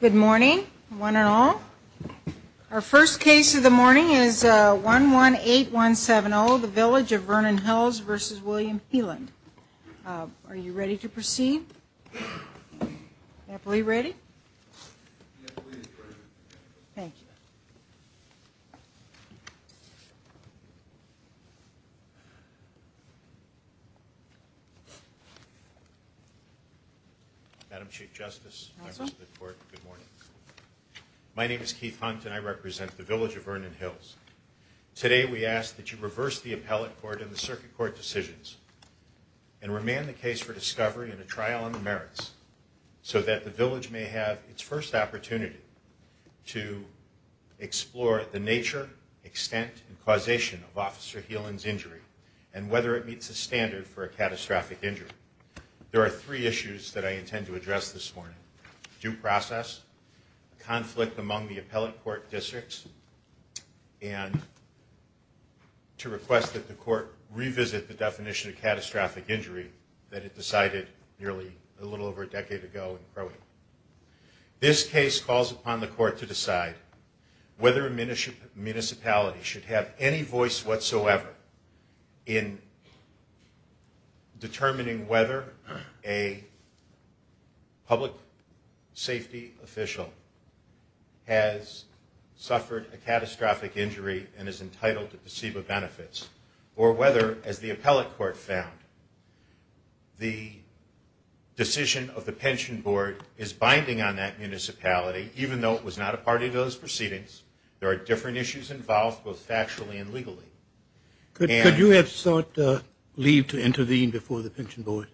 Good morning, one and all. Our first case of the morning is 118170, the village of Vernon Hills v. William Heelan. Are you ready to proceed? I believe ready. Thank you. Madam Chief Justice, members of the court, good morning. My name is Keith Hunt and I represent the village of Vernon Hills. Today we ask that you reverse the appellate court and the circuit court decisions and remand the case for discovery and a trial on the merits so that the village may have its first opportunity to explore the nature, extent, and causation of Officer Heelan's injury and whether it meets the standard for a catastrophic injury. There are three issues that I intend to address this morning. Due process, conflict among the appellate court districts, and to request that the court revisit the definition of catastrophic injury that it decided nearly a little over a decade ago in Crowley. This case calls upon the court to decide whether a municipality should have any voice whatsoever in determining whether a public safety official has suffered a catastrophic injury and is entitled to placebo benefits or whether, as the appellate court found, the decision of the pension board is binding on that municipality, even though it was not a part of those proceedings. There are different issues involved, both factually and legally. Could you have sought leave to intervene before the pension board?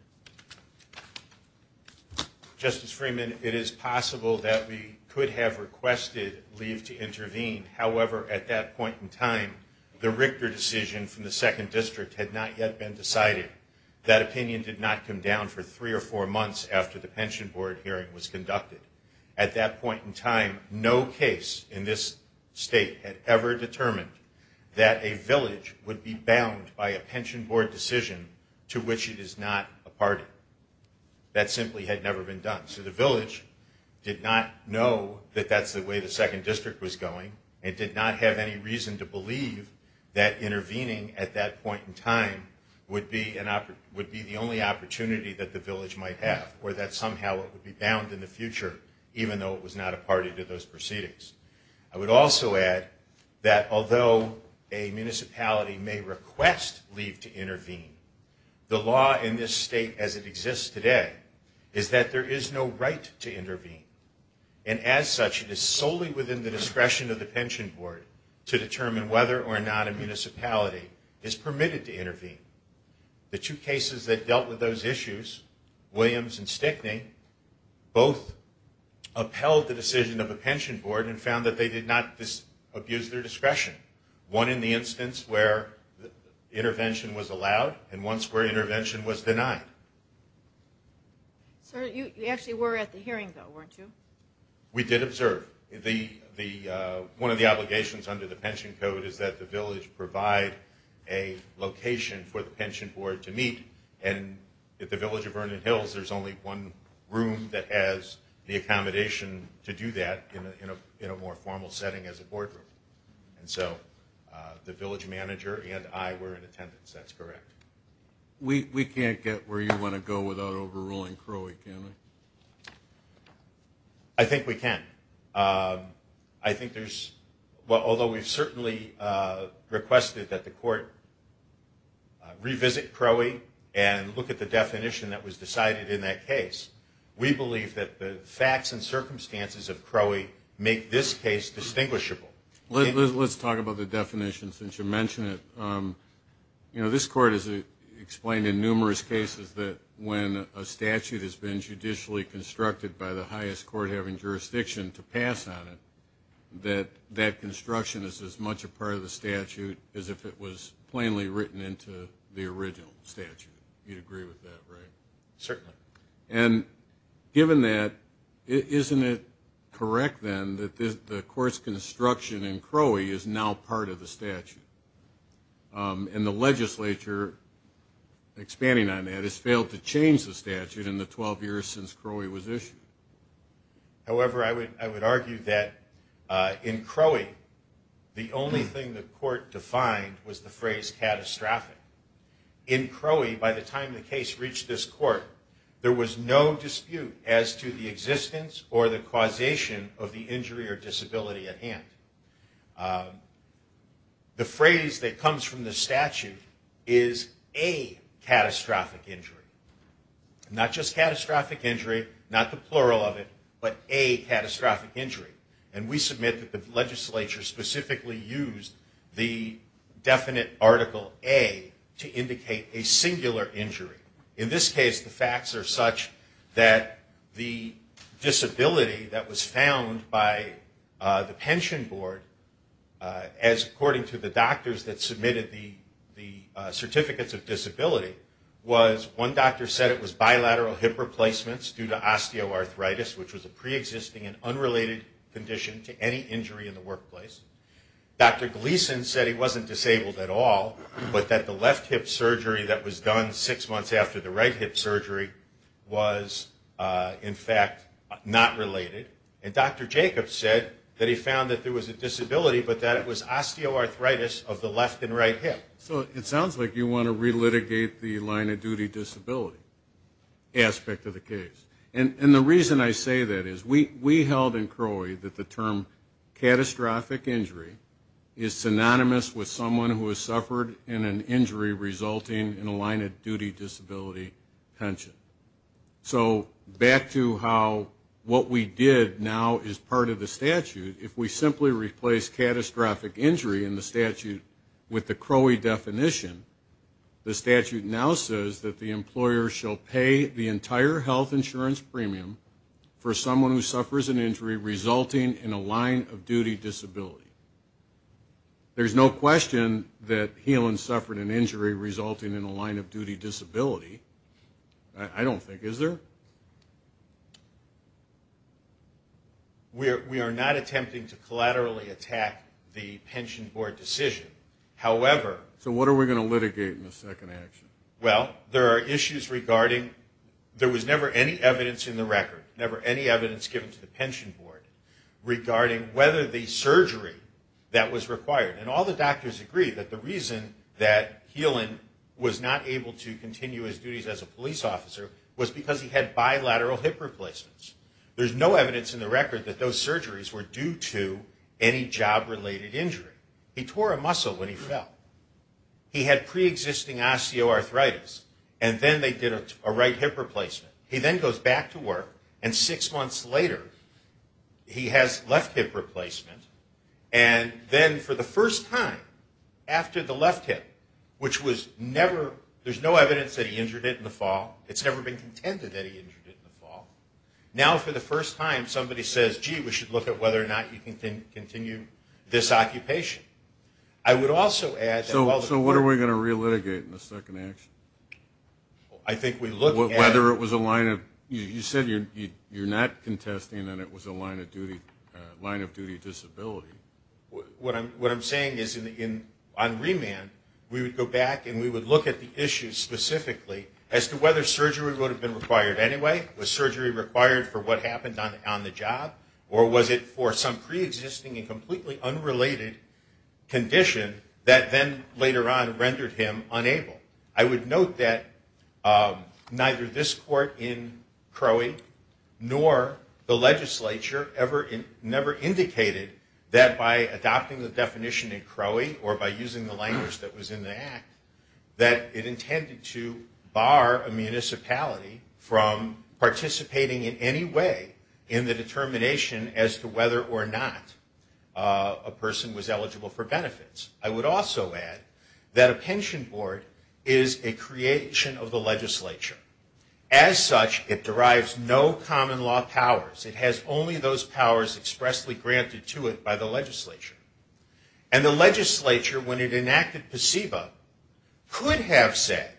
Justice Freeman, it is possible that we could have requested leave to intervene. However, at that point in time, the Richter decision from the second district had not yet been decided. That opinion did not come down for three or four months after the pension board hearing was conducted. At that point in time, no case in this state had ever determined that a village would be bound by a pension board decision to which it is not a party. That simply had never been done. So the village did not know that that's the way the second district was going. It did not have any reason to believe that intervening at that point in time would be the only opportunity that the village might have or that somehow it would be bound in the future, even though it was not a party to those proceedings. I would also add that although a municipality may request leave to intervene, the law in this state as it exists today is that there is no right to intervene. And as such, it is solely within the discretion of the pension board to determine whether or not a municipality is permitted to intervene. The two cases that dealt with those issues, Williams and Stickney, both upheld the decision of the pension board and found that they did not abuse their discretion. One in the instance where intervention was allowed and one where intervention was denied. Sir, you actually were at the hearing, though, weren't you? We did observe. One of the obligations under the pension code is that the village provide a location for the pension board to meet. And at the village of Vernon Hills, there's only one room that has the accommodation to do that in a more formal setting as a boardroom. And so the village manager and I were in attendance. That's correct. We can't get where you want to go without overruling Crowey, can we? I think we can. I think there's – although we've certainly requested that the court revisit Crowey and look at the definition that was decided in that case, we believe that the facts and circumstances of Crowey make this case distinguishable. Let's talk about the definition since you mentioned it. You know, this court has explained in numerous cases that when a statute has been judicially constructed by the highest court having jurisdiction to pass on it, that that construction is as much a part of the statute as if it was plainly written into the original statute. You'd agree with that, right? Certainly. And given that, isn't it correct then that the court's construction in Crowey is now part of the statute? And the legislature, expanding on that, has failed to change the statute in the 12 years since Crowey was issued. However, I would argue that in Crowey, the only thing the court defined was the phrase catastrophic. In Crowey, by the time the case reached this court, there was no dispute as to the existence or the causation of the injury or disability at hand. The phrase that comes from the statute is a catastrophic injury. Not just catastrophic injury, not the plural of it, but a catastrophic injury. And we submit that the legislature specifically used the definite article A to indicate a singular injury. In this case, the facts are such that the disability that was found by the pension board, as according to the doctors that submitted the certificates of disability, was one doctor said it was bilateral hip replacements due to osteoarthritis, which was a preexisting and unrelated condition to any injury in the workplace. Dr. Gleason said he wasn't disabled at all, but that the left hip surgery that was done six months after the right hip surgery was, in fact, not related. And Dr. Jacobs said that he found that there was a disability, but that it was osteoarthritis of the left and right hip. So it sounds like you want to relitigate the line of duty disability aspect of the case. And the reason I say that is we held in CROI that the term catastrophic injury is synonymous with someone who has suffered in an injury resulting in a line of duty disability pension. So back to how what we did now is part of the statute. If we simply replace catastrophic injury in the statute with the CROI definition, the statute now says that the employer shall pay the entire health insurance premium for someone who suffers an injury resulting in a line of duty disability. There's no question that Helan suffered an injury resulting in a line of duty disability. I don't think. Is there? We are not attempting to collaterally attack the pension board decision. So what are we going to litigate in the second action? Well, there are issues regarding there was never any evidence in the record, never any evidence given to the pension board regarding whether the surgery that was required, and all the doctors agree that the reason that Helan was not able to continue his duties as a police officer was because he had bilateral hip replacements. There's no evidence in the record that those surgeries were due to any job-related injury. He tore a muscle when he fell. He had preexisting osteoarthritis, and then they did a right hip replacement. He then goes back to work, and six months later he has left hip replacement. And then for the first time after the left hip, which was never, there's no evidence that he injured it in the fall. It's never been contended that he injured it in the fall. Now for the first time somebody says, gee, we should look at whether or not you can continue this occupation. I would also add that while the court- So what are we going to relitigate in the second action? I think we look at- Whether it was a line of, you said you're not contesting that it was a line of duty disability. What I'm saying is on remand we would go back and we would look at the issues specifically as to whether surgery would have been required anyway. Was surgery required for what happened on the job, or was it for some preexisting and completely unrelated condition that then later on rendered him unable? I would note that neither this court in Crowey nor the legislature ever indicated that by adopting the definition in Crowey or by using the language that was in the act, that it intended to bar a municipality from participating in any way in the determination as to whether or not a person was eligible for benefits. I would also add that a pension board is a creation of the legislature. As such, it derives no common law powers. It has only those powers expressly granted to it by the legislature. And the legislature, when it enacted PSEBA, could have said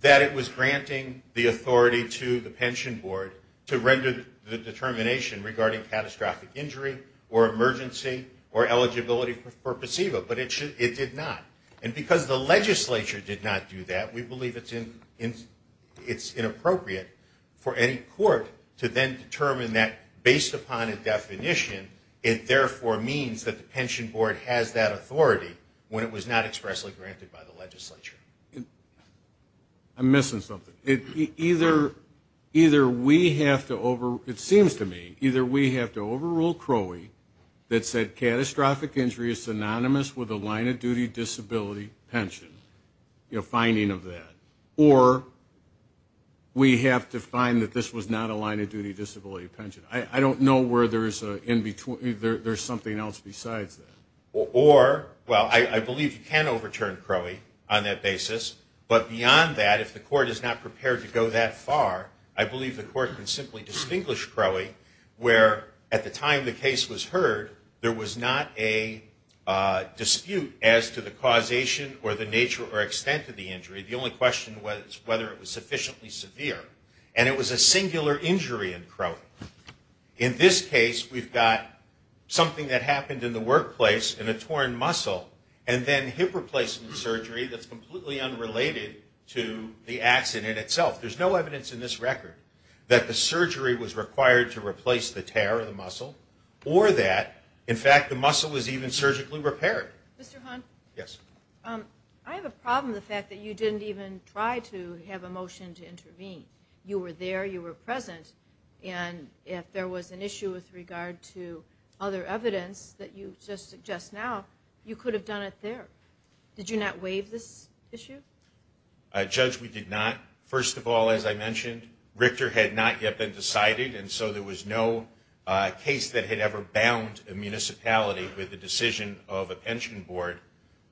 that it was granting the authority to the pension board to render the determination regarding catastrophic injury or emergency or eligibility for PSEBA, but it did not. And because the legislature did not do that, we believe it's inappropriate for any court to then determine that, based upon a definition, it therefore means that the pension board has that authority when it was not expressly granted by the legislature. I'm missing something. It seems to me either we have to overrule Crowey that said catastrophic injury is synonymous with a line-of-duty disability pension, a finding of that, or we have to find that this was not a line-of-duty disability pension. I don't know where there's something else besides that. Or, well, I believe you can overturn Crowey on that basis, but beyond that, if the court is not prepared to go that far, I believe the court can simply distinguish Crowey where, at the time the case was heard, there was not a dispute as to the causation or the nature or extent of the injury. The only question was whether it was sufficiently severe. And it was a singular injury in Crowey. In this case, we've got something that happened in the workplace in a torn muscle, and then hip replacement surgery that's completely unrelated to the accident itself. There's no evidence in this record that the surgery was required to replace the tear of the muscle or that, in fact, the muscle was even surgically repaired. Mr. Hahn? Yes. I have a problem with the fact that you didn't even try to have a motion to intervene. You were there. You were present. And if there was an issue with regard to other evidence that you just suggest now, you could have done it there. Did you not waive this issue? Judge, we did not. First of all, as I mentioned, Richter had not yet been decided, and so there was no case that had ever bound a municipality with the decision of a pension board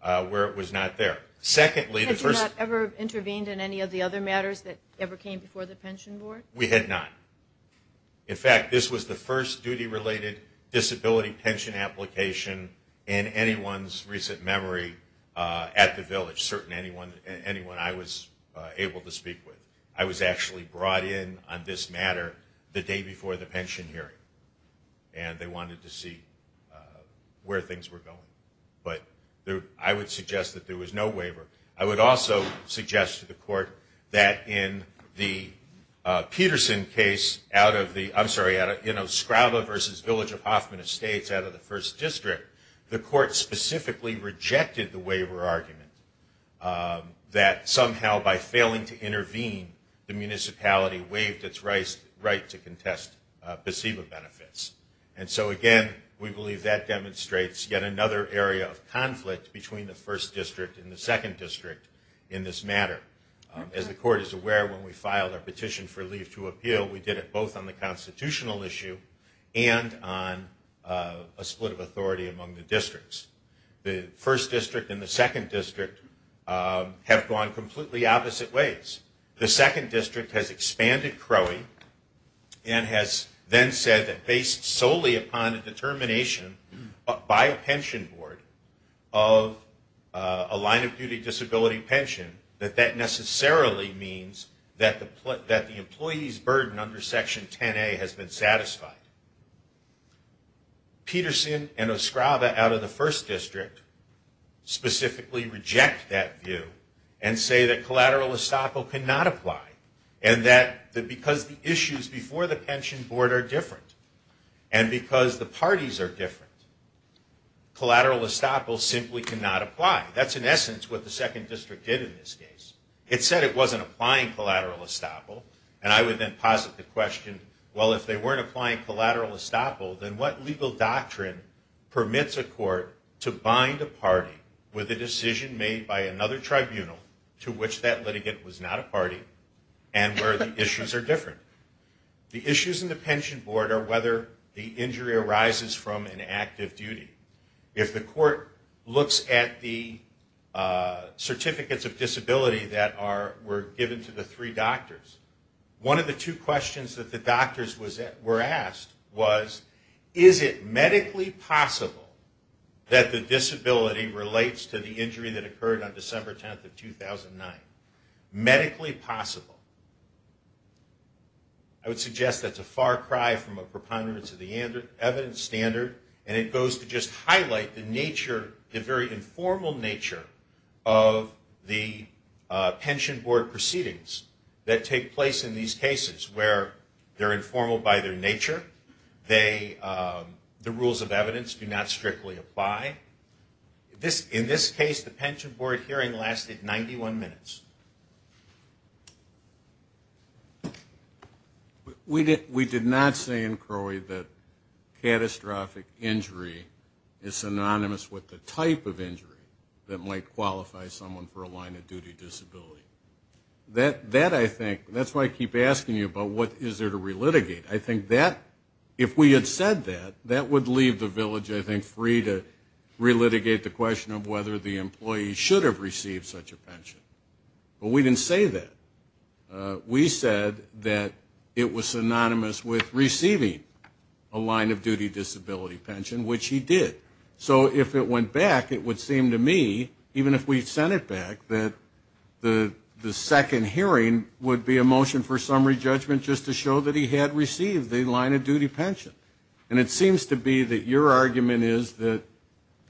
where it was not there. Secondly, the first- Had you not ever intervened in any of the other matters that ever came before the pension board? We had not. In fact, this was the first duty-related disability pension application in anyone's recent memory at the village, certainly anyone I was able to speak with. I was actually brought in on this matter the day before the pension hearing, and they wanted to see where things were going. But I would suggest that there was no waiver. I would also suggest to the court that in the Peterson case out of the-I'm sorry, you know, Skraba versus Village of Hoffman Estates out of the First District, the court specifically rejected the waiver argument that somehow by failing to intervene, the municipality waived its right to contest placebo benefits. And so, again, we believe that demonstrates yet another area of conflict between the First District and the Second District in this matter. As the court is aware, when we filed our petition for leave to appeal, we did it both on the constitutional issue and on a split of authority among the districts. The First District and the Second District have gone completely opposite ways. The Second District has expanded CROI and has then said that based solely upon a determination by a pension board of a line-of-duty disability pension, that that necessarily means that the employee's burden under Section 10A has been satisfied. Peterson and Skraba out of the First District specifically reject that view and say that collateral estoppel cannot apply and that because the issues before the pension board are different and because the parties are different, collateral estoppel simply cannot apply. That's in essence what the Second District did in this case. It said it wasn't applying collateral estoppel, and I would then posit the question, well, if they weren't applying collateral estoppel, then what legal doctrine permits a court to bind a party with a decision made by another tribunal to which that litigant was not a party and where the issues are different? The issues in the pension board are whether the injury arises from an active duty. If the court looks at the certificates of disability that were given to the three doctors, one of the two questions that the doctors were asked was, is it medically possible that the disability relates to the injury that occurred on December 10th of 2009? Medically possible. I would suggest that's a far cry from a preponderance of the evidence standard, and it goes to just highlight the nature, the very informal nature of the pension board proceedings that take place in these cases where they're informal by their nature. The rules of evidence do not strictly apply. In this case, the pension board hearing lasted 91 minutes. We did not say in CROI that catastrophic injury is synonymous with the type of injury that might qualify someone for a line of duty disability. That, I think, that's why I keep asking you about what is there to relitigate. I think that, if we had said that, that would leave the village, I think, free to relitigate the question of whether the employee should have received such a pension. But we didn't say that. We said that it was synonymous with receiving a line of duty disability pension, which he did. So if it went back, it would seem to me, even if we sent it back, that the second hearing would be a motion for summary judgment just to show that he had received a line of duty pension. And it seems to be that your argument is that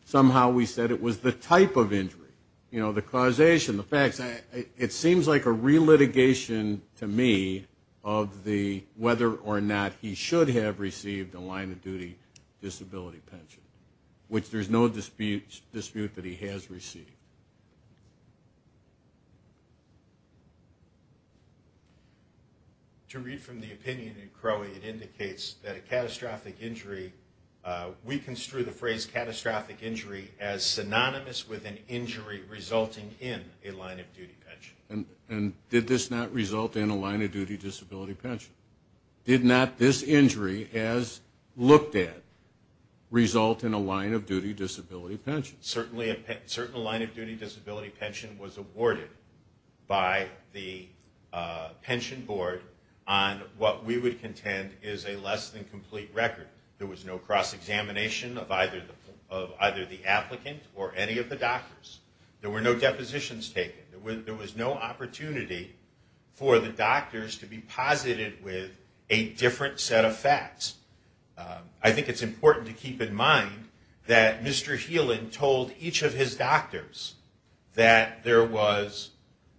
somehow we said it was the type of injury, you know, the causation, the facts. It seems like a relitigation to me of whether or not he should have received a line of duty disability pension, which there's no dispute that he has received. To read from the opinion in Crowley, it indicates that a catastrophic injury, we construe the phrase catastrophic injury as synonymous with an injury resulting in a line of duty pension. And did this not result in a line of duty disability pension? Did not this injury, as looked at, result in a line of duty disability pension? Certainly a line of duty disability pension was awarded by the pension board on what we would contend is a less than complete record. There was no cross-examination of either the applicant or any of the doctors. There were no depositions taken. There was no opportunity for the doctors to be posited with a different set of facts. I think it's important to keep in mind that Mr. Healan told each of his doctors that there was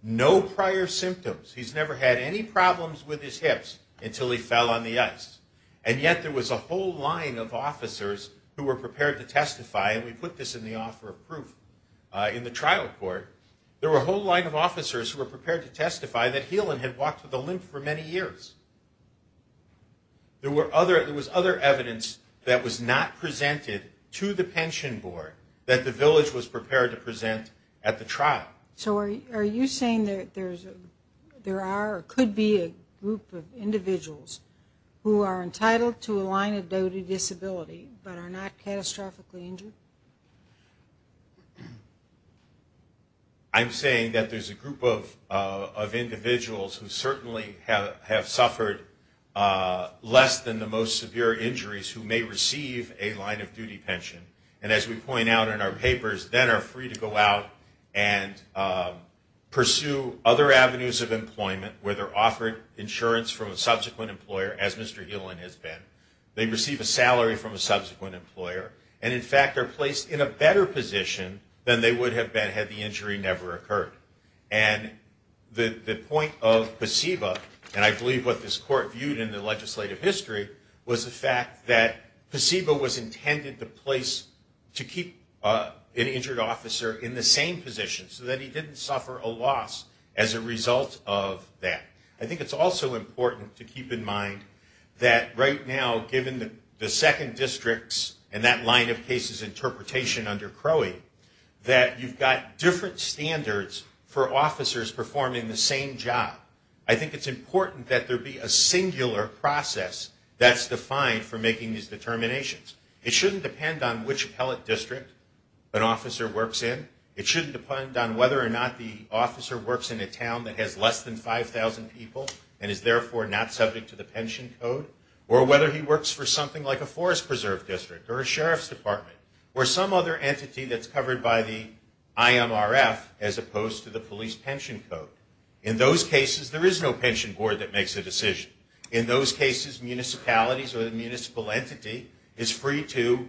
no prior symptoms. He's never had any problems with his hips until he fell on the ice. And yet there was a whole line of officers who were prepared to testify, and we put this in the offer of proof in the trial court. There were a whole line of officers who were prepared to testify that Healan had walked with a limp for many years. There was other evidence that was not presented to the pension board that the village was prepared to present at the trial. So are you saying that there are or could be a group of individuals who are entitled to a line-of-duty disability but are not catastrophically injured? I'm saying that there's a group of individuals who certainly have suffered less than the most severe injuries who may receive a line-of-duty pension, and as we point out in our papers, then are free to go out and pursue other avenues of employment where they're offered insurance from a subsequent employer, as Mr. Healan has been. They receive a salary from a subsequent employer, and in fact are placed in a better position than they would have been had the injury never occurred. And the point of placebo, and I believe what this court viewed in the legislative history, was the fact that placebo was intended to place an injured officer in the same position so that he didn't suffer a loss as a result of that. I think it's also important to keep in mind that right now, given the second district's and that line of cases interpretation under Crowley, that you've got different standards for officers performing the same job. I think it's important that there be a singular process that's defined for making these determinations. It shouldn't depend on which appellate district an officer works in. It shouldn't depend on whether or not the officer works in a town that has less than 5,000 people and is therefore not subject to the pension code, or whether he works for something like a forest preserve district or a sheriff's department or some other entity that's covered by the IMRF as opposed to the police pension code. In those cases, there is no pension board that makes a decision. In those cases, municipalities or the municipal entity is free to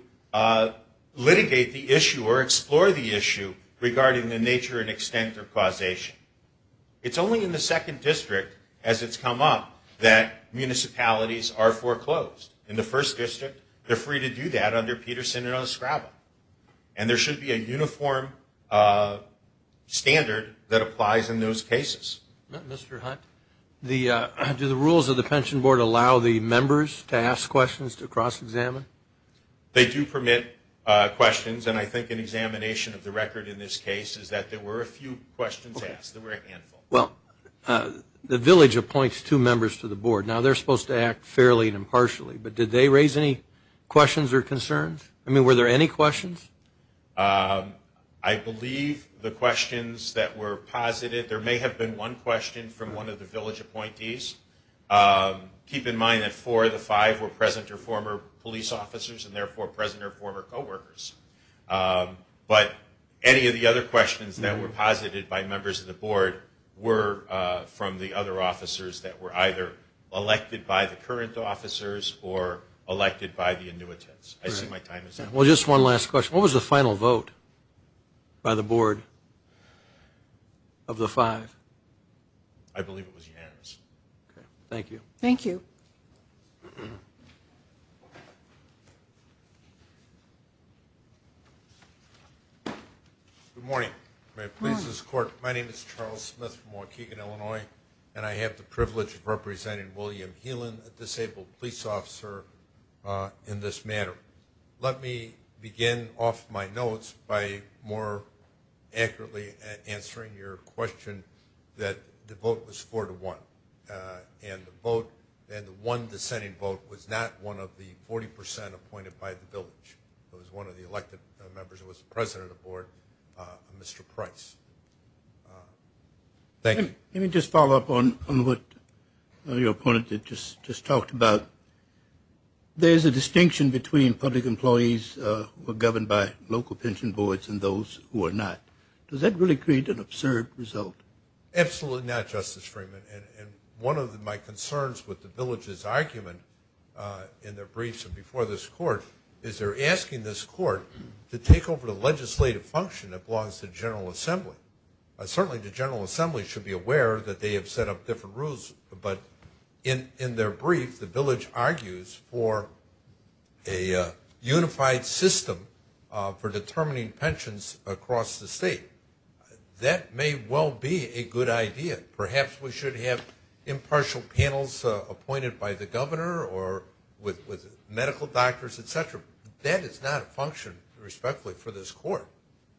litigate the issue or explore the issue regarding the nature and extent of causation. It's only in the second district, as it's come up, that municipalities are foreclosed. In the first district, they're free to do that under Peterson and Oscraba, and there should be a uniform standard that applies in those cases. Mr. Hunt, do the rules of the pension board allow the members to ask questions to cross-examine? They do permit questions, and I think an examination of the record in this case is that there were a few questions asked. There were a handful. Well, the village appoints two members to the board. Now, they're supposed to act fairly and impartially, but did they raise any questions or concerns? I mean, were there any questions? I believe the questions that were posited, there may have been one question from one of the village appointees. Keep in mind that four of the five were present or former police officers and, therefore, present or former co-workers. But any of the other questions that were posited by members of the board were from the other officers that were either elected by the current officers or elected by the annuitants. I see my time is up. Well, just one last question. What was the final vote by the board of the five? I believe it was unanimous. Thank you. Thank you. Good morning. My name is Charles Smith from Waukegan, Illinois, and I have the privilege of representing William Heelan, a disabled police officer, in this matter. Let me begin off my notes by more accurately answering your question that the vote was four to one, and the one dissenting vote was not one of the 40 percent appointed by the village. It was one of the elected members. It was the president of the board, Mr. Price. Thank you. Let me just follow up on what your opponent just talked about. There is a distinction between public employees who are governed by local pension boards and those who are not. Does that really create an absurd result? Absolutely not, Justice Freeman, and one of my concerns with the village's argument in their briefs and before this court is they're asking this court to take over the legislative function that belongs to the General Assembly. Certainly, the General Assembly should be aware that they have set up different rules, but in their brief, the village argues for a unified system for determining pensions across the state. That may well be a good idea. Perhaps we should have impartial panels appointed by the governor or with medical doctors, et cetera. That is not a function, respectfully, for this court,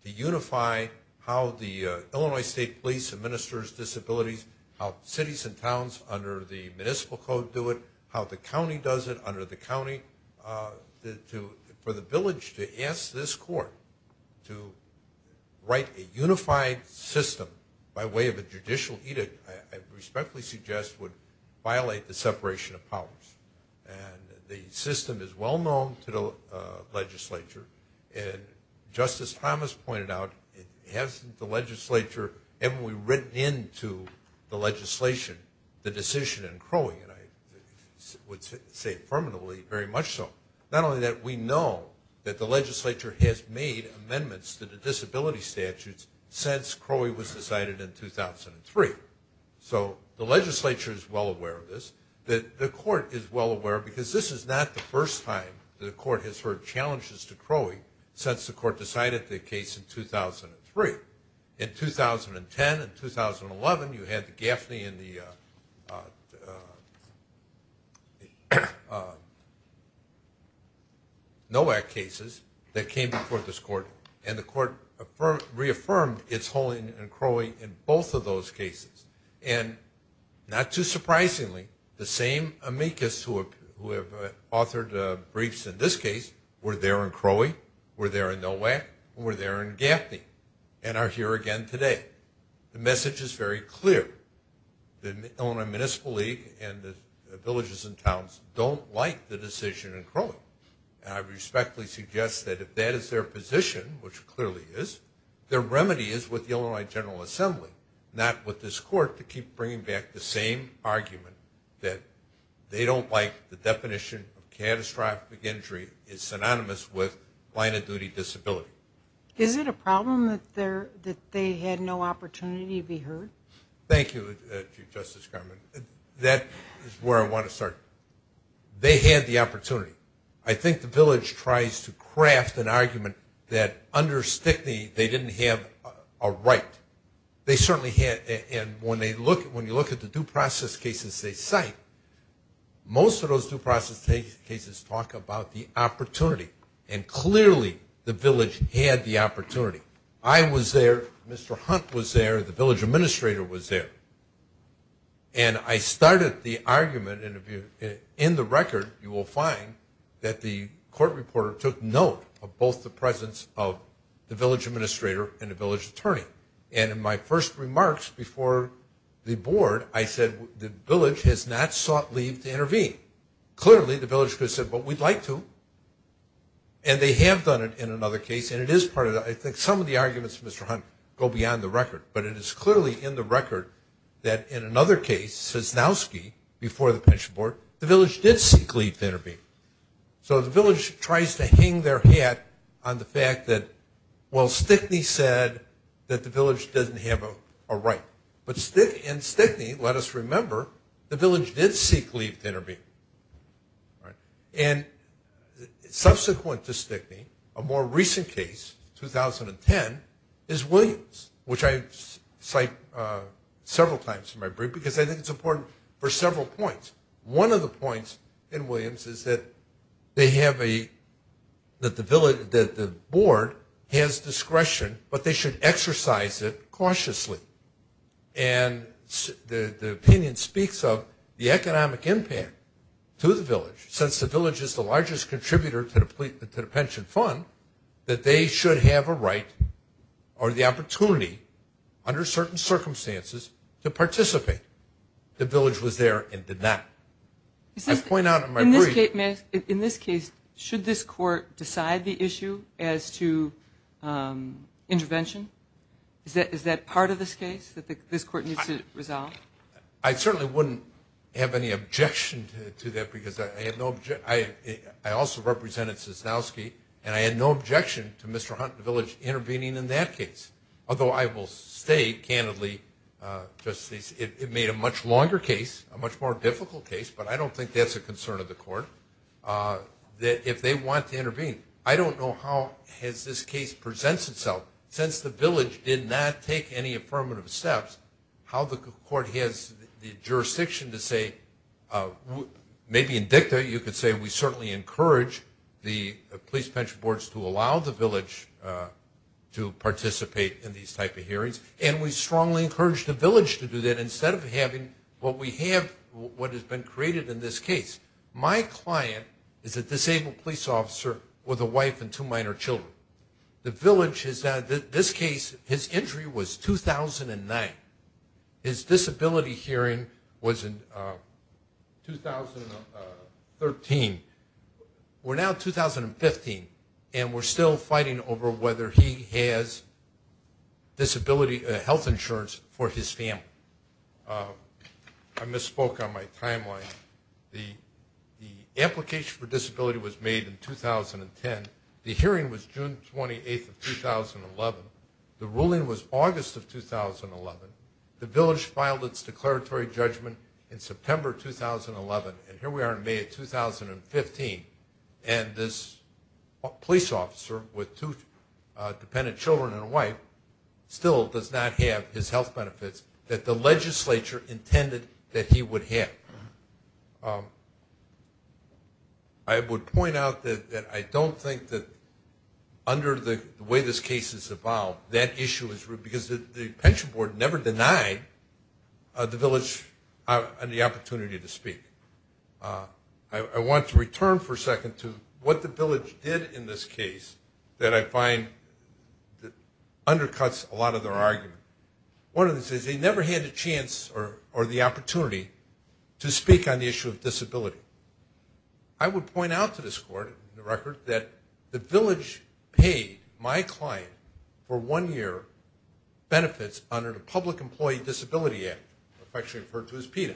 to unify how the Illinois State Police administers disabilities, how cities and towns under the municipal code do it, how the county does it under the county. For the village to ask this court to write a unified system by way of a judicial edict, I respectfully suggest would violate the separation of powers, and the system is well known to the legislature, and Justice Thomas pointed out it hasn't the legislature ever written into the legislation the decision in Crowley, and I would say affirmatively very much so. Not only that, we know that the legislature has made amendments to the disability statutes since Crowley was decided in 2003. So the legislature is well aware of this. The court is well aware because this is not the first time the court has heard challenges to Crowley since the court decided the case in 2003. In 2010 and 2011, you had the Gaffney and the Nowak cases that came before this court, and the court reaffirmed its holding in Crowley in both of those cases, and not too surprisingly, the same amicus who have authored briefs in this case were there in Crowley, were there in Nowak, and were there in Gaffney, and are here again today. The message is very clear. The Illinois Municipal League and the villages and towns don't like the decision in Crowley, and I respectfully suggest that if that is their position, which it clearly is, their remedy is with the Illinois General Assembly, not with this court to keep bringing back the same argument that they don't like the definition of catastrophic injury is synonymous with plaintiff duty disability. Is it a problem that they had no opportunity to be heard? Thank you, Chief Justice Garment. That is where I want to start. They had the opportunity. I think the village tries to craft an argument that under Stickney they didn't have a right. They certainly had, and when you look at the due process cases they cite, most of those due process cases talk about the opportunity, and clearly the village had the opportunity. I was there, Mr. Hunt was there, the village administrator was there, and I started the argument, and in the record you will find that the court reporter took note of both the presence of the village administrator and the village attorney, and in my first remarks before the board I said the village has not sought leave to intervene. Clearly the village could have said, well, we'd like to, and they have done it in another case, and it is part of the, I think some of the arguments, Mr. Hunt, go beyond the record, but it is clearly in the record that in another case, Sosnowski, before the pension board, the village did seek leave to intervene. So the village tries to hang their hat on the fact that, well, Stickney said that the village doesn't have a right, and Stickney, let us remember, the village did seek leave to intervene, and subsequent to Stickney, a more recent case, 2010, is Williams, which I cite several times in my brief because I think it's important for several points. One of the points in Williams is that they have a, that the board has discretion, but they should exercise it cautiously, and the opinion speaks of the economic impact to the village, since the village is the largest contributor to the pension fund, that they should have a right or the opportunity under certain circumstances to participate. The village was there and did not. I point out in my brief. In this case, should this court decide the issue as to intervention? Is that part of this case that this court needs to resolve? I certainly wouldn't have any objection to that because I had no objection. I also represented Sosnowski, and I had no objection to Mr. Hunt and the village intervening in that case, although I will say, candidly, it made a much longer case, a much more difficult case, but I don't think that's a concern of the court, that if they want to intervene. I don't know how this case presents itself. Since the village did not take any affirmative steps, how the court has the jurisdiction to say, maybe in dicta you could say we certainly encourage the police pension boards to allow the village to participate in these type of hearings, and we strongly encourage the village to do that instead of having what we have, what has been created in this case. My client is a disabled police officer with a wife and two minor children. The village has had this case, his injury was 2009. His disability hearing was in 2013. We're now in 2015, and we're still fighting over whether he has disability health insurance for his family. I misspoke on my timeline. The application for disability was made in 2010. The hearing was June 28th of 2011. The ruling was August of 2011. The village filed its declaratory judgment in September 2011, and here we are in May of 2015, and this police officer with two dependent children and a wife still does not have his health benefits that the legislature intended that he would have. I would point out that I don't think that under the way this case has evolved, that issue is real because the pension board never denied the village the opportunity to speak. I want to return for a second to what the village did in this case that I find undercuts a lot of their argument. One of them says they never had a chance or the opportunity to speak on the issue of disability. I would point out to this court in the record that the village paid my client for one year benefits under the Public Employee Disability Act, affectionately referred to as PETA.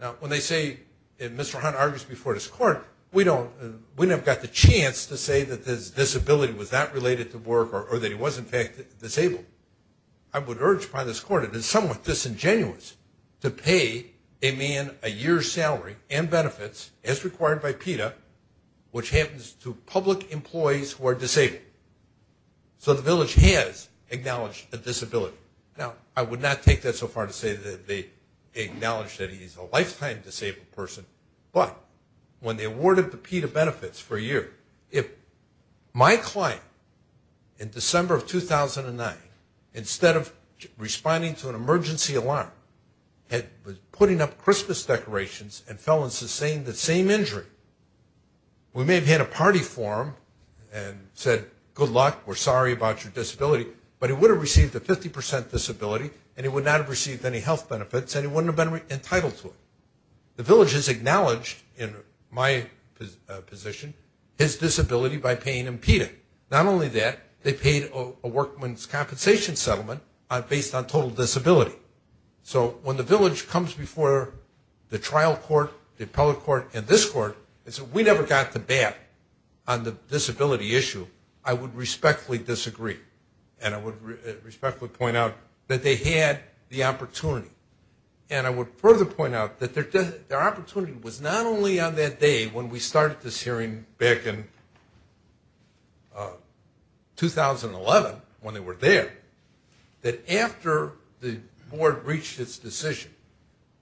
Now, when they say, and Mr. Hunt argues before this court, we never got the chance to say that his disability was not related to work or that he was in fact disabled. I would urge by this court, it is somewhat disingenuous to pay a man a year's salary and benefits as required by PETA, which happens to public employees who are disabled. So the village has acknowledged a disability. Now, I would not take that so far to say that they acknowledge that he's a lifetime disabled person, but when they awarded the PETA benefits for a year, if my client in December of 2009, instead of responding to an emergency alarm, had been putting up Christmas decorations and fell and sustained the same injury, we may have had a party for him and said, good luck, we're sorry about your disability, but he would have received a 50% disability and he would not have received any health benefits and he wouldn't have been entitled to it. The village has acknowledged, in my position, his disability by paying him PETA. Not only that, they paid a workman's compensation settlement based on total disability. So when the village comes before the trial court, the appellate court, and this court, and says we never got the bat on the disability issue, I would respectfully disagree. And I would respectfully point out that they had the opportunity. And I would further point out that their opportunity was not only on that day when we started this hearing back in 2011, when they were there, that after the board reached its decision,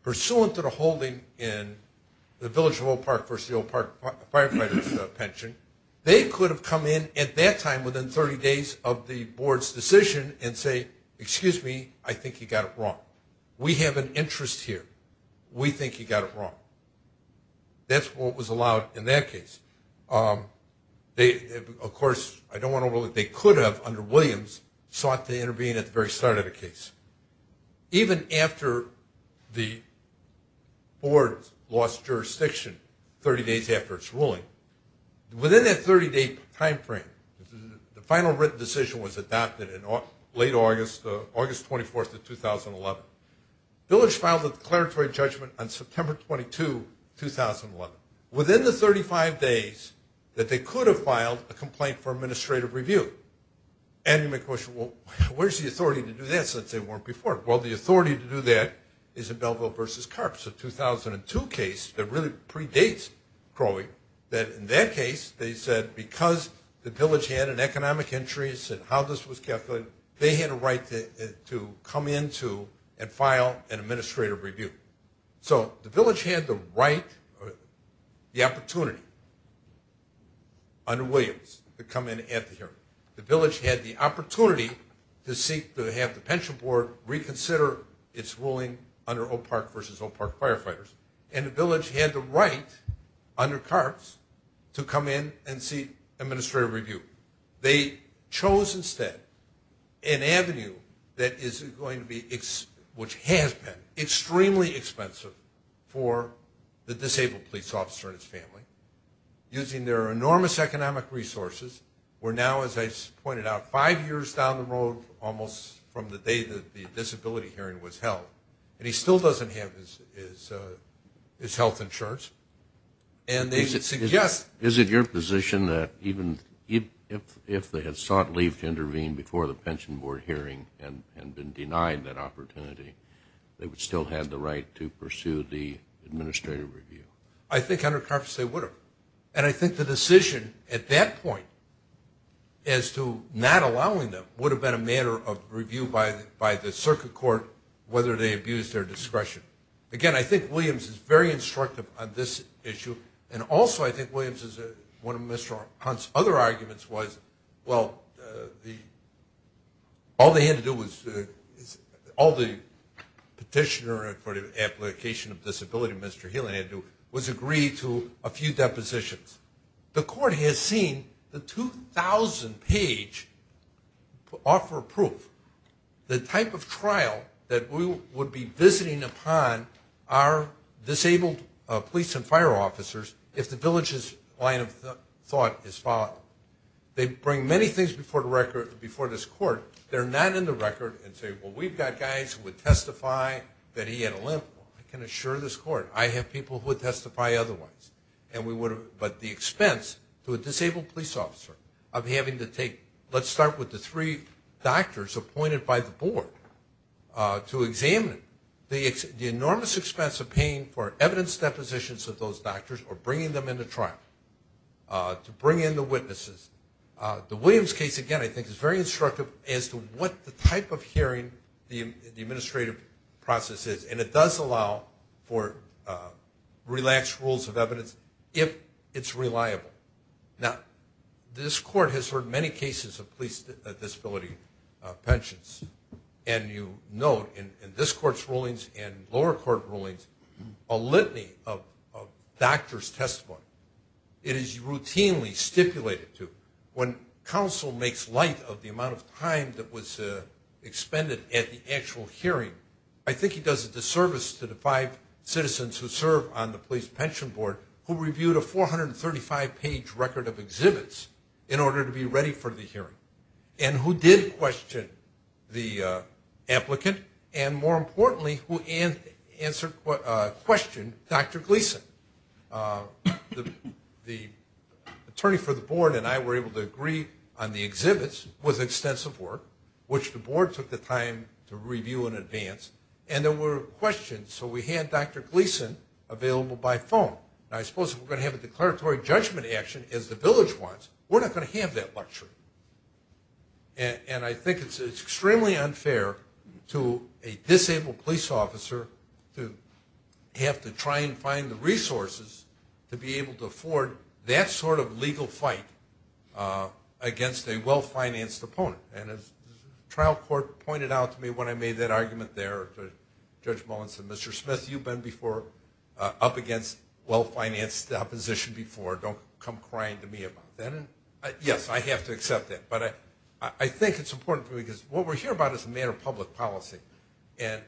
pursuant to the holding in the Village of Old Park versus the Old Park Firefighters Pension, they could have come in at that time within 30 days of the board's decision and say, excuse me, I think you got it wrong. We have an interest here. We think you got it wrong. That's what was allowed in that case. Of course, I don't want to rule that they could have, under Williams, sought to intervene at the very start of the case. Even after the board lost jurisdiction 30 days after its ruling, within that 30-day timeframe, the final written decision was adopted in late August, August 24th of 2011. Village filed a declaratory judgment on September 22, 2011. Within the 35 days that they could have filed a complaint for administrative review. And you may question, well, where's the authority to do that since they weren't before? Well, the authority to do that is in Belleville versus Carp. It's a 2002 case that really predates Crowley, that in that case, they said because the village had an economic interest in how this was calculated, they had a right to come into and file an administrative review. So the village had the right, the opportunity, under Williams to come in at the hearing. The village had the opportunity to seek to have the pension board reconsider its ruling under Oak Park versus Oak Park Firefighters. And the village had the right, under Carp's, to come in and seek administrative review. They chose instead an avenue that is going to be, which has been, extremely expensive for the disabled police officer and his family. Using their enormous economic resources, we're now, as I pointed out, five years down the road almost from the day that the disability hearing was held. And he still doesn't have his health insurance. Is it your position that even if they had sought leave to intervene before the pension board hearing and been denied that opportunity, they would still have the right to pursue the administrative review? I think under Carp's they would have. And I think the decision at that point as to not allowing them would have been a matter of review by the circuit court whether they abused their discretion. Again, I think Williams is very instructive on this issue, and also I think Williams is one of Mr. Hunt's other arguments was, well, all they had to do was, all the petitioner for the application of disability, Mr. Healy had to do, was agree to a few depositions. The court has seen the 2,000-page offer of proof, the type of trial that we would be visiting upon our disabled police and fire officers if the village's line of thought is followed. They bring many things before this court. They're not in the record and say, well, we've got guys who would testify that he had a limp. I can assure this court I have people who would testify otherwise. But the expense to a disabled police officer of having to take, let's start with the three doctors appointed by the board to examine, the enormous expense of paying for evidence depositions of those doctors or bringing them into trial to bring in the witnesses. The Williams case, again, I think is very instructive as to what the type of hearing the administrative process is. And it does allow for relaxed rules of evidence if it's reliable. Now, this court has heard many cases of police disability pensions. And you note in this court's rulings and lower court rulings, a litany of doctor's testimony. It is routinely stipulated to. When counsel makes light of the amount of time that was expended at the actual hearing, I think he does a disservice to the five citizens who serve on the police pension board who reviewed a 435-page record of exhibits in order to be ready for the hearing and who did question the applicant and, more importantly, who questioned Dr. Gleason. The attorney for the board and I were able to agree on the exhibits with extensive work, which the board took the time to review in advance, and there were questions. So we had Dr. Gleason available by phone. Now, I suppose if we're going to have a declaratory judgment action, as the village wants, we're not going to have that luxury. And I think it's extremely unfair to a disabled police officer to have to try and find the resources to be able to afford that sort of legal fight against a well-financed opponent. And as the trial court pointed out to me when I made that argument there, Judge Mullins said, Mr. Smith, you've been up against well-financed opposition before. Don't come crying to me about that. And, yes, I have to accept that. But I think it's important for me because what we're here about is a matter of public policy. And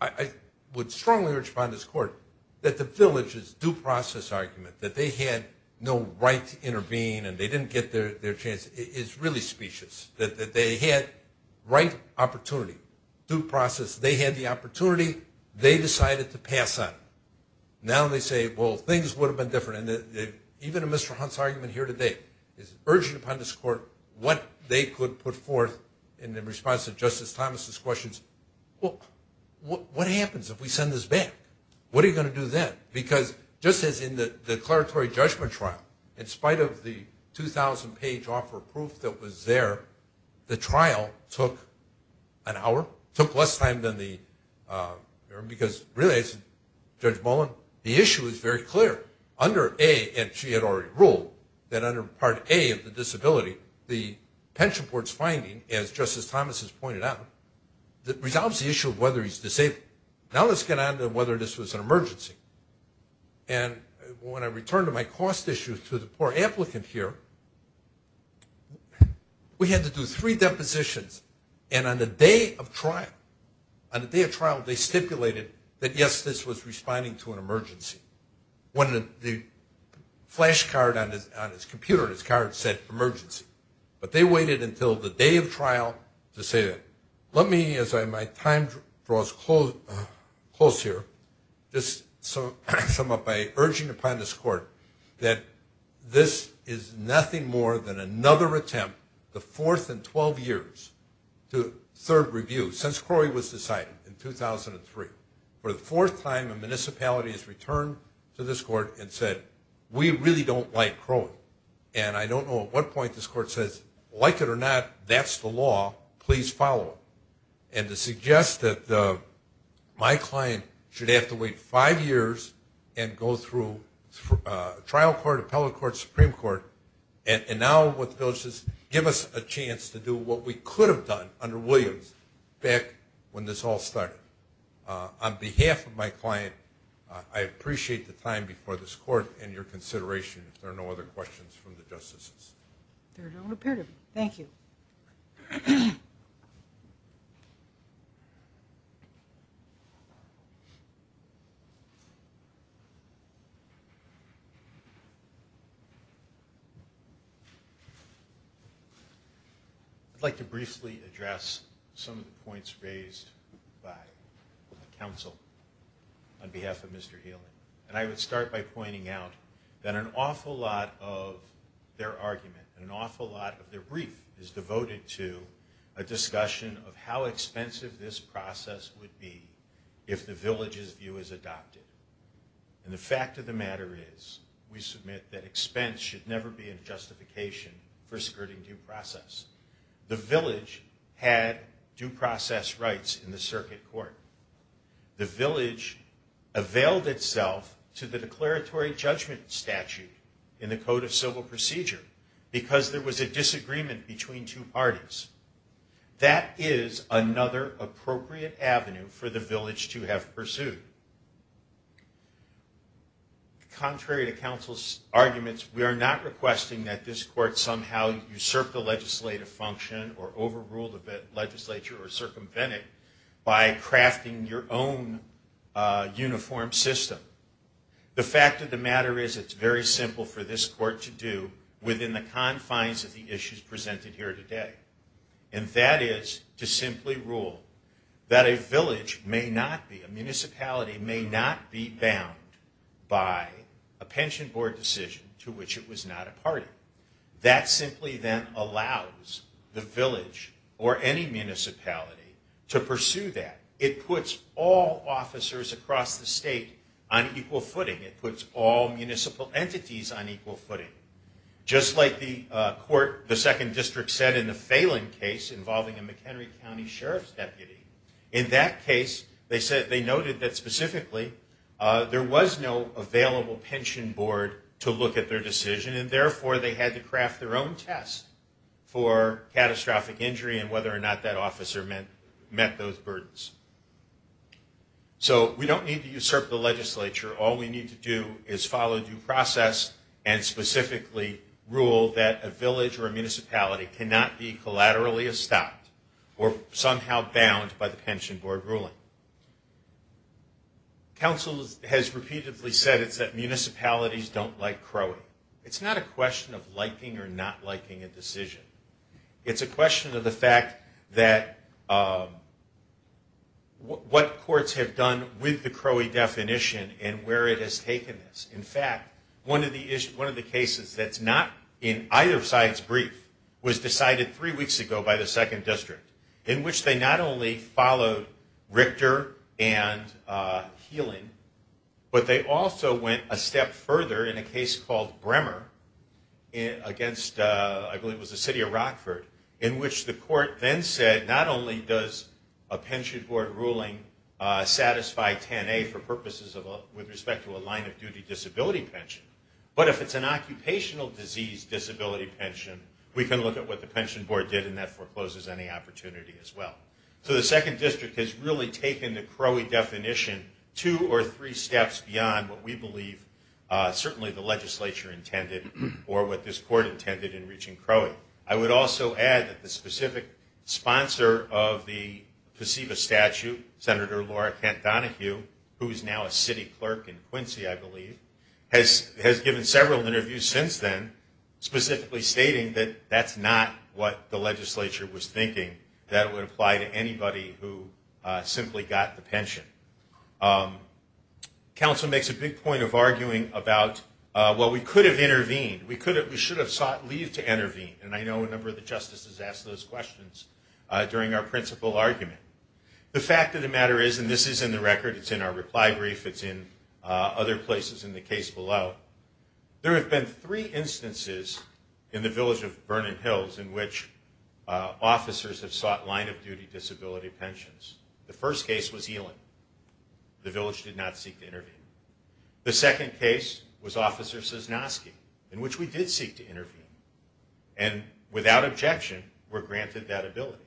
I would strongly urge upon this court that the village's due process argument, that they had no right to intervene and they didn't get their chance, is really specious, that they had right opportunity, due process. They had the opportunity. They decided to pass on it. Now they say, well, things would have been different. And even in Mr. Hunt's argument here today, it's urgent upon this court what they could put forth in response to Justice Thomas's questions. What happens if we send this back? What are you going to do then? Because just as in the declaratory judgment trial, in spite of the 2,000-page offer of proof that was there, the trial took an hour, took less time than the, because really, as Judge Mullin, the issue is very clear. Under A, and she had already ruled, that under Part A of the disability, the pension board's finding, as Justice Thomas has pointed out, that resolves the issue of whether he's disabled. Now let's get on to whether this was an emergency. And when I return to my cost issue to the poor applicant here, we had to do three depositions. And on the day of trial, on the day of trial, they stipulated that, yes, this was responding to an emergency. When the flash card on his computer, his card said emergency. But they waited until the day of trial to say, let me, as my time draws close here, just sum up by urging upon this court that this is nothing more than another attempt, the fourth in 12 years, to third review, since Crowey was decided in 2003. For the fourth time, a municipality has returned to this court and said, we really don't like Crowey. And I don't know at what point this court says, like it or not, that's the law, please follow it. And to suggest that my client should have to wait five years and go through trial court, appellate court, Supreme Court, and now what the bill says, give us a chance to do what we could have done under Williams back when this all started. On behalf of my client, I appreciate the time before this court and your consideration. If there are no other questions from the justices. There don't appear to be. Thank you. I'd like to briefly address some of the points raised by counsel on behalf of Mr. Healy. And I would start by pointing out that an awful lot of their argument and an awful lot of their brief is devoted to a discussion of how expensive this process would be if the village's view is adopted. And the fact of the matter is, we submit that expense should never be a justification for skirting due process. The village had due process rights in the circuit court. The village availed itself to the declaratory judgment statute in the Code of Civil Procedure because there was a disagreement between two parties. That is another appropriate avenue for the village to have pursued. Contrary to counsel's arguments, we are not requesting that this court somehow usurp the legislative function or overrule the legislature or circumvent it by crafting your own uniform system. The fact of the matter is, it's very simple for this court to do within the confines of the issues presented here today. And that is to simply rule that a village may not be, a municipality may not be bound by a pension board decision to which it was not a party. That simply then allows the village or any municipality to pursue that. It puts all officers across the state on equal footing. It puts all municipal entities on equal footing. Just like the court, the second district, said in the Phelan case involving a McHenry County Sheriff's deputy, in that case they noted that specifically there was no available pension board to look at their decision and therefore they had to craft their own test for catastrophic injury and whether or not that officer met those burdens. So we don't need to usurp the legislature. All we need to do is follow due process and specifically rule that a village or a municipality cannot be collaterally stopped or somehow bound by the pension board ruling. Counsel has repeatedly said it's that municipalities don't like crowing. It's not a question of liking or not liking a decision. It's a question of the fact that what courts have done with the crowing definition and where it has taken this. In fact, one of the cases that's not in either side's brief was decided three weeks ago by the second district in which they not only followed Richter and Heeling, but they also went a step further in a case called Bremer against I believe it was the city of Rockford in which the court then said not only does a pension board ruling satisfy 10A for purposes with respect to a line of duty disability pension, but if it's an occupational disease disability pension we can look at what the pension board did and that forecloses any opportunity as well. So the second district has really taken the crowing definition two or three steps beyond what we believe certainly the legislature intended or what this court intended in reaching crowing. I would also add that the specific sponsor of the PSEVA statute, Senator Laura Kent Donahue who is now a city clerk in Quincy I believe, has given several interviews since then specifically stating that that's not what the legislature was thinking that would apply to anybody who simply got the pension. Council makes a big point of arguing about well we could have intervened, we should have sought leave to intervene and I know a number of the justices asked those questions during our principal argument. The fact of the matter is, and this is in the record, it's in our reply brief, it's in other places in the case below, there have been three instances in the village of Vernon Hills in which officers have sought line of duty disability pensions. The first case was Elan. The village did not seek to intervene. The second case was Officer Sosnowski in which we did seek to intervene and without objection were granted that ability.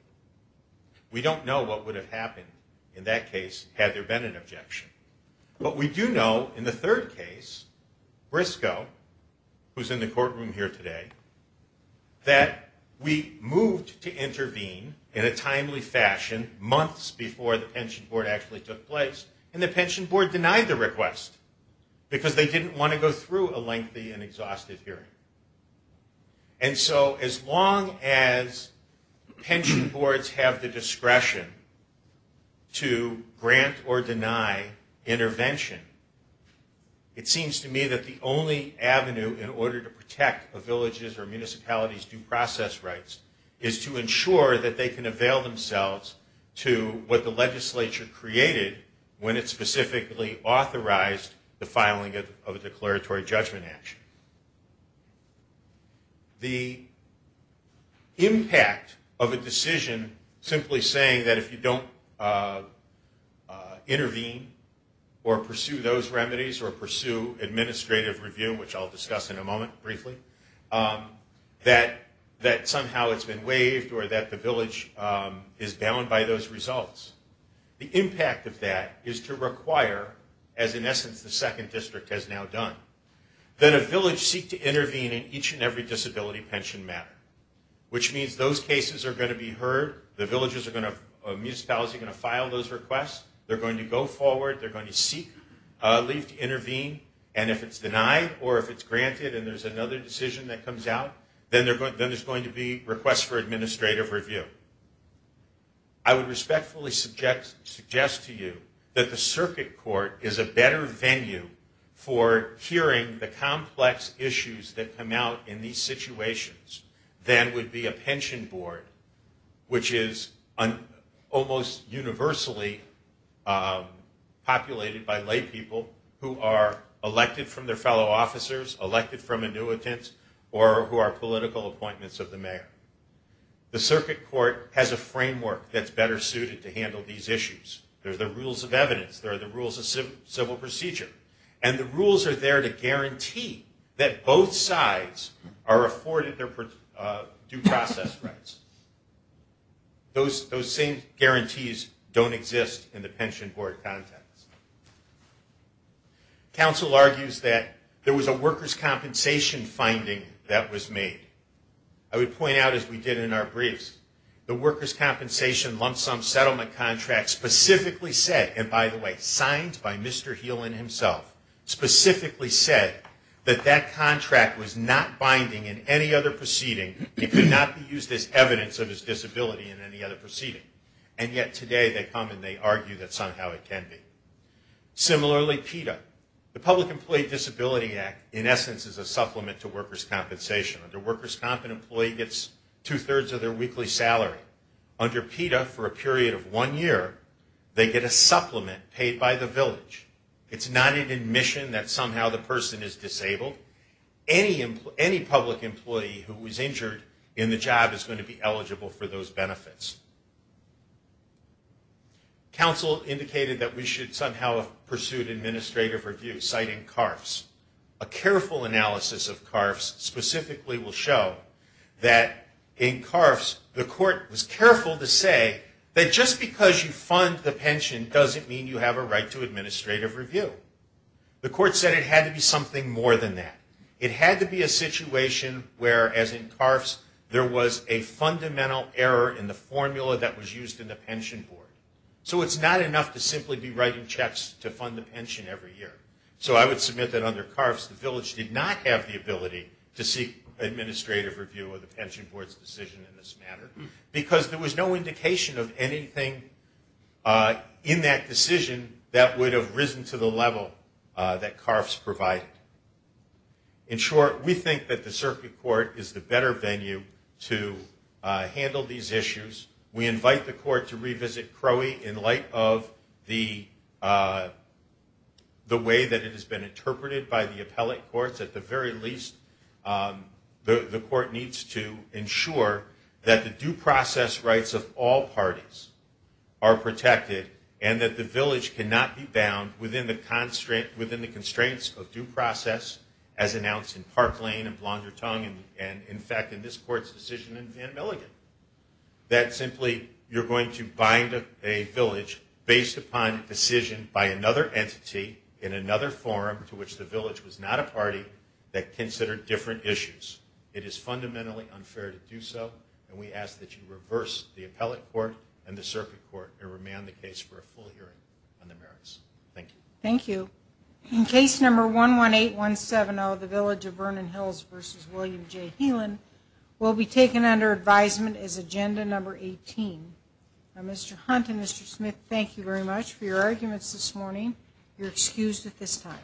We don't know what would have happened in that case had there been an objection. But we do know in the third case, Briscoe, who's in the courtroom here today, that we moved to intervene in a timely fashion months before the pension board actually took place and the pension board denied the request because they didn't want to go through a lengthy and exhaustive hearing. And so as long as pension boards have the discretion to grant or deny intervention, it seems to me that the only avenue in order to protect a village's or municipality's due process rights is to ensure that they can avail themselves to what the legislature created when it specifically authorized the filing of a declaratory judgment action. The impact of a decision simply saying that if you don't intervene or pursue those remedies or pursue administrative review, which I'll discuss in a moment briefly, that somehow it's been waived or that the village is bound by those results. The impact of that is to require, as in essence the second district has now done, that a village seek to intervene in each and every disability pension matter. Which means those cases are going to be heard. The municipalities are going to file those requests. They're going to go forward. They're going to seek leave to intervene. And if it's denied or if it's granted and there's another decision that comes out, then there's going to be requests for administrative review. I would respectfully suggest to you that the circuit court is a better venue for hearing the complex issues that come out in these situations than would be a pension board, which is almost universally populated by lay people who are elected from their fellow officers, elected from annuitants, or who are political appointments of the mayor. The circuit court has a framework that's better suited to handle these issues. There are the rules of evidence. There are the rules of civil procedure. And the rules are there to guarantee that both sides are afforded their due process rights. Those same guarantees don't exist in the pension board context. Council argues that there was a workers' compensation finding that was made. I would point out, as we did in our briefs, the workers' compensation lump sum settlement contract specifically said, and by the way, it was signed by Mr. Heelan himself, specifically said, that that contract was not binding in any other proceeding. It could not be used as evidence of his disability in any other proceeding. And yet today they come and they argue that somehow it can be. Similarly, PETA, the Public Employee Disability Act, in essence, is a supplement to workers' compensation. The workers' compensation employee gets two-thirds of their weekly salary. Under PETA, for a period of one year, they get a supplement paid by the village. It's not an admission that somehow the person is disabled. Any public employee who was injured in the job is going to be eligible for those benefits. Council indicated that we should somehow have pursued administrative review, citing CARFs. A careful analysis of CARFs specifically will show that in CARFs, the court was careful to say that just because you fund the pension doesn't mean you have a right to administrative review. The court said it had to be something more than that. It had to be a situation where, as in CARFs, there was a fundamental error in the formula that was used in the pension board. So it's not enough to simply be writing checks to fund the pension every year. So I would submit that under CARFs, the village did not have the ability to seek administrative review of the pension board's decision in this matter because there was no indication of anything in that decision that would have risen to the level that CARFs provided. In short, we think that the circuit court is the better venue to handle these issues. We invite the court to revisit CROI in light of the way that it has been interpreted by the appellate courts. At the very least, the court needs to ensure that the due process rights of all parties are protected and that the village cannot be bound within the constraints of due process, as announced in Park Lane and Blondertongue and, in fact, in this court's decision in Van Milligan. That simply you're going to bind a village based upon a decision by another entity in another forum to which the village was not a party that considered different issues. It is fundamentally unfair to do so, and we ask that you reverse the appellate court and the circuit court and remand the case for a full hearing on the merits. Thank you. Thank you. In case number 118170, the village of Vernon Hills v. William J. Healan will be taken under advisement as agenda number 18. Mr. Hunt and Mr. Smith, thank you very much for your arguments this morning, you're excused at this time.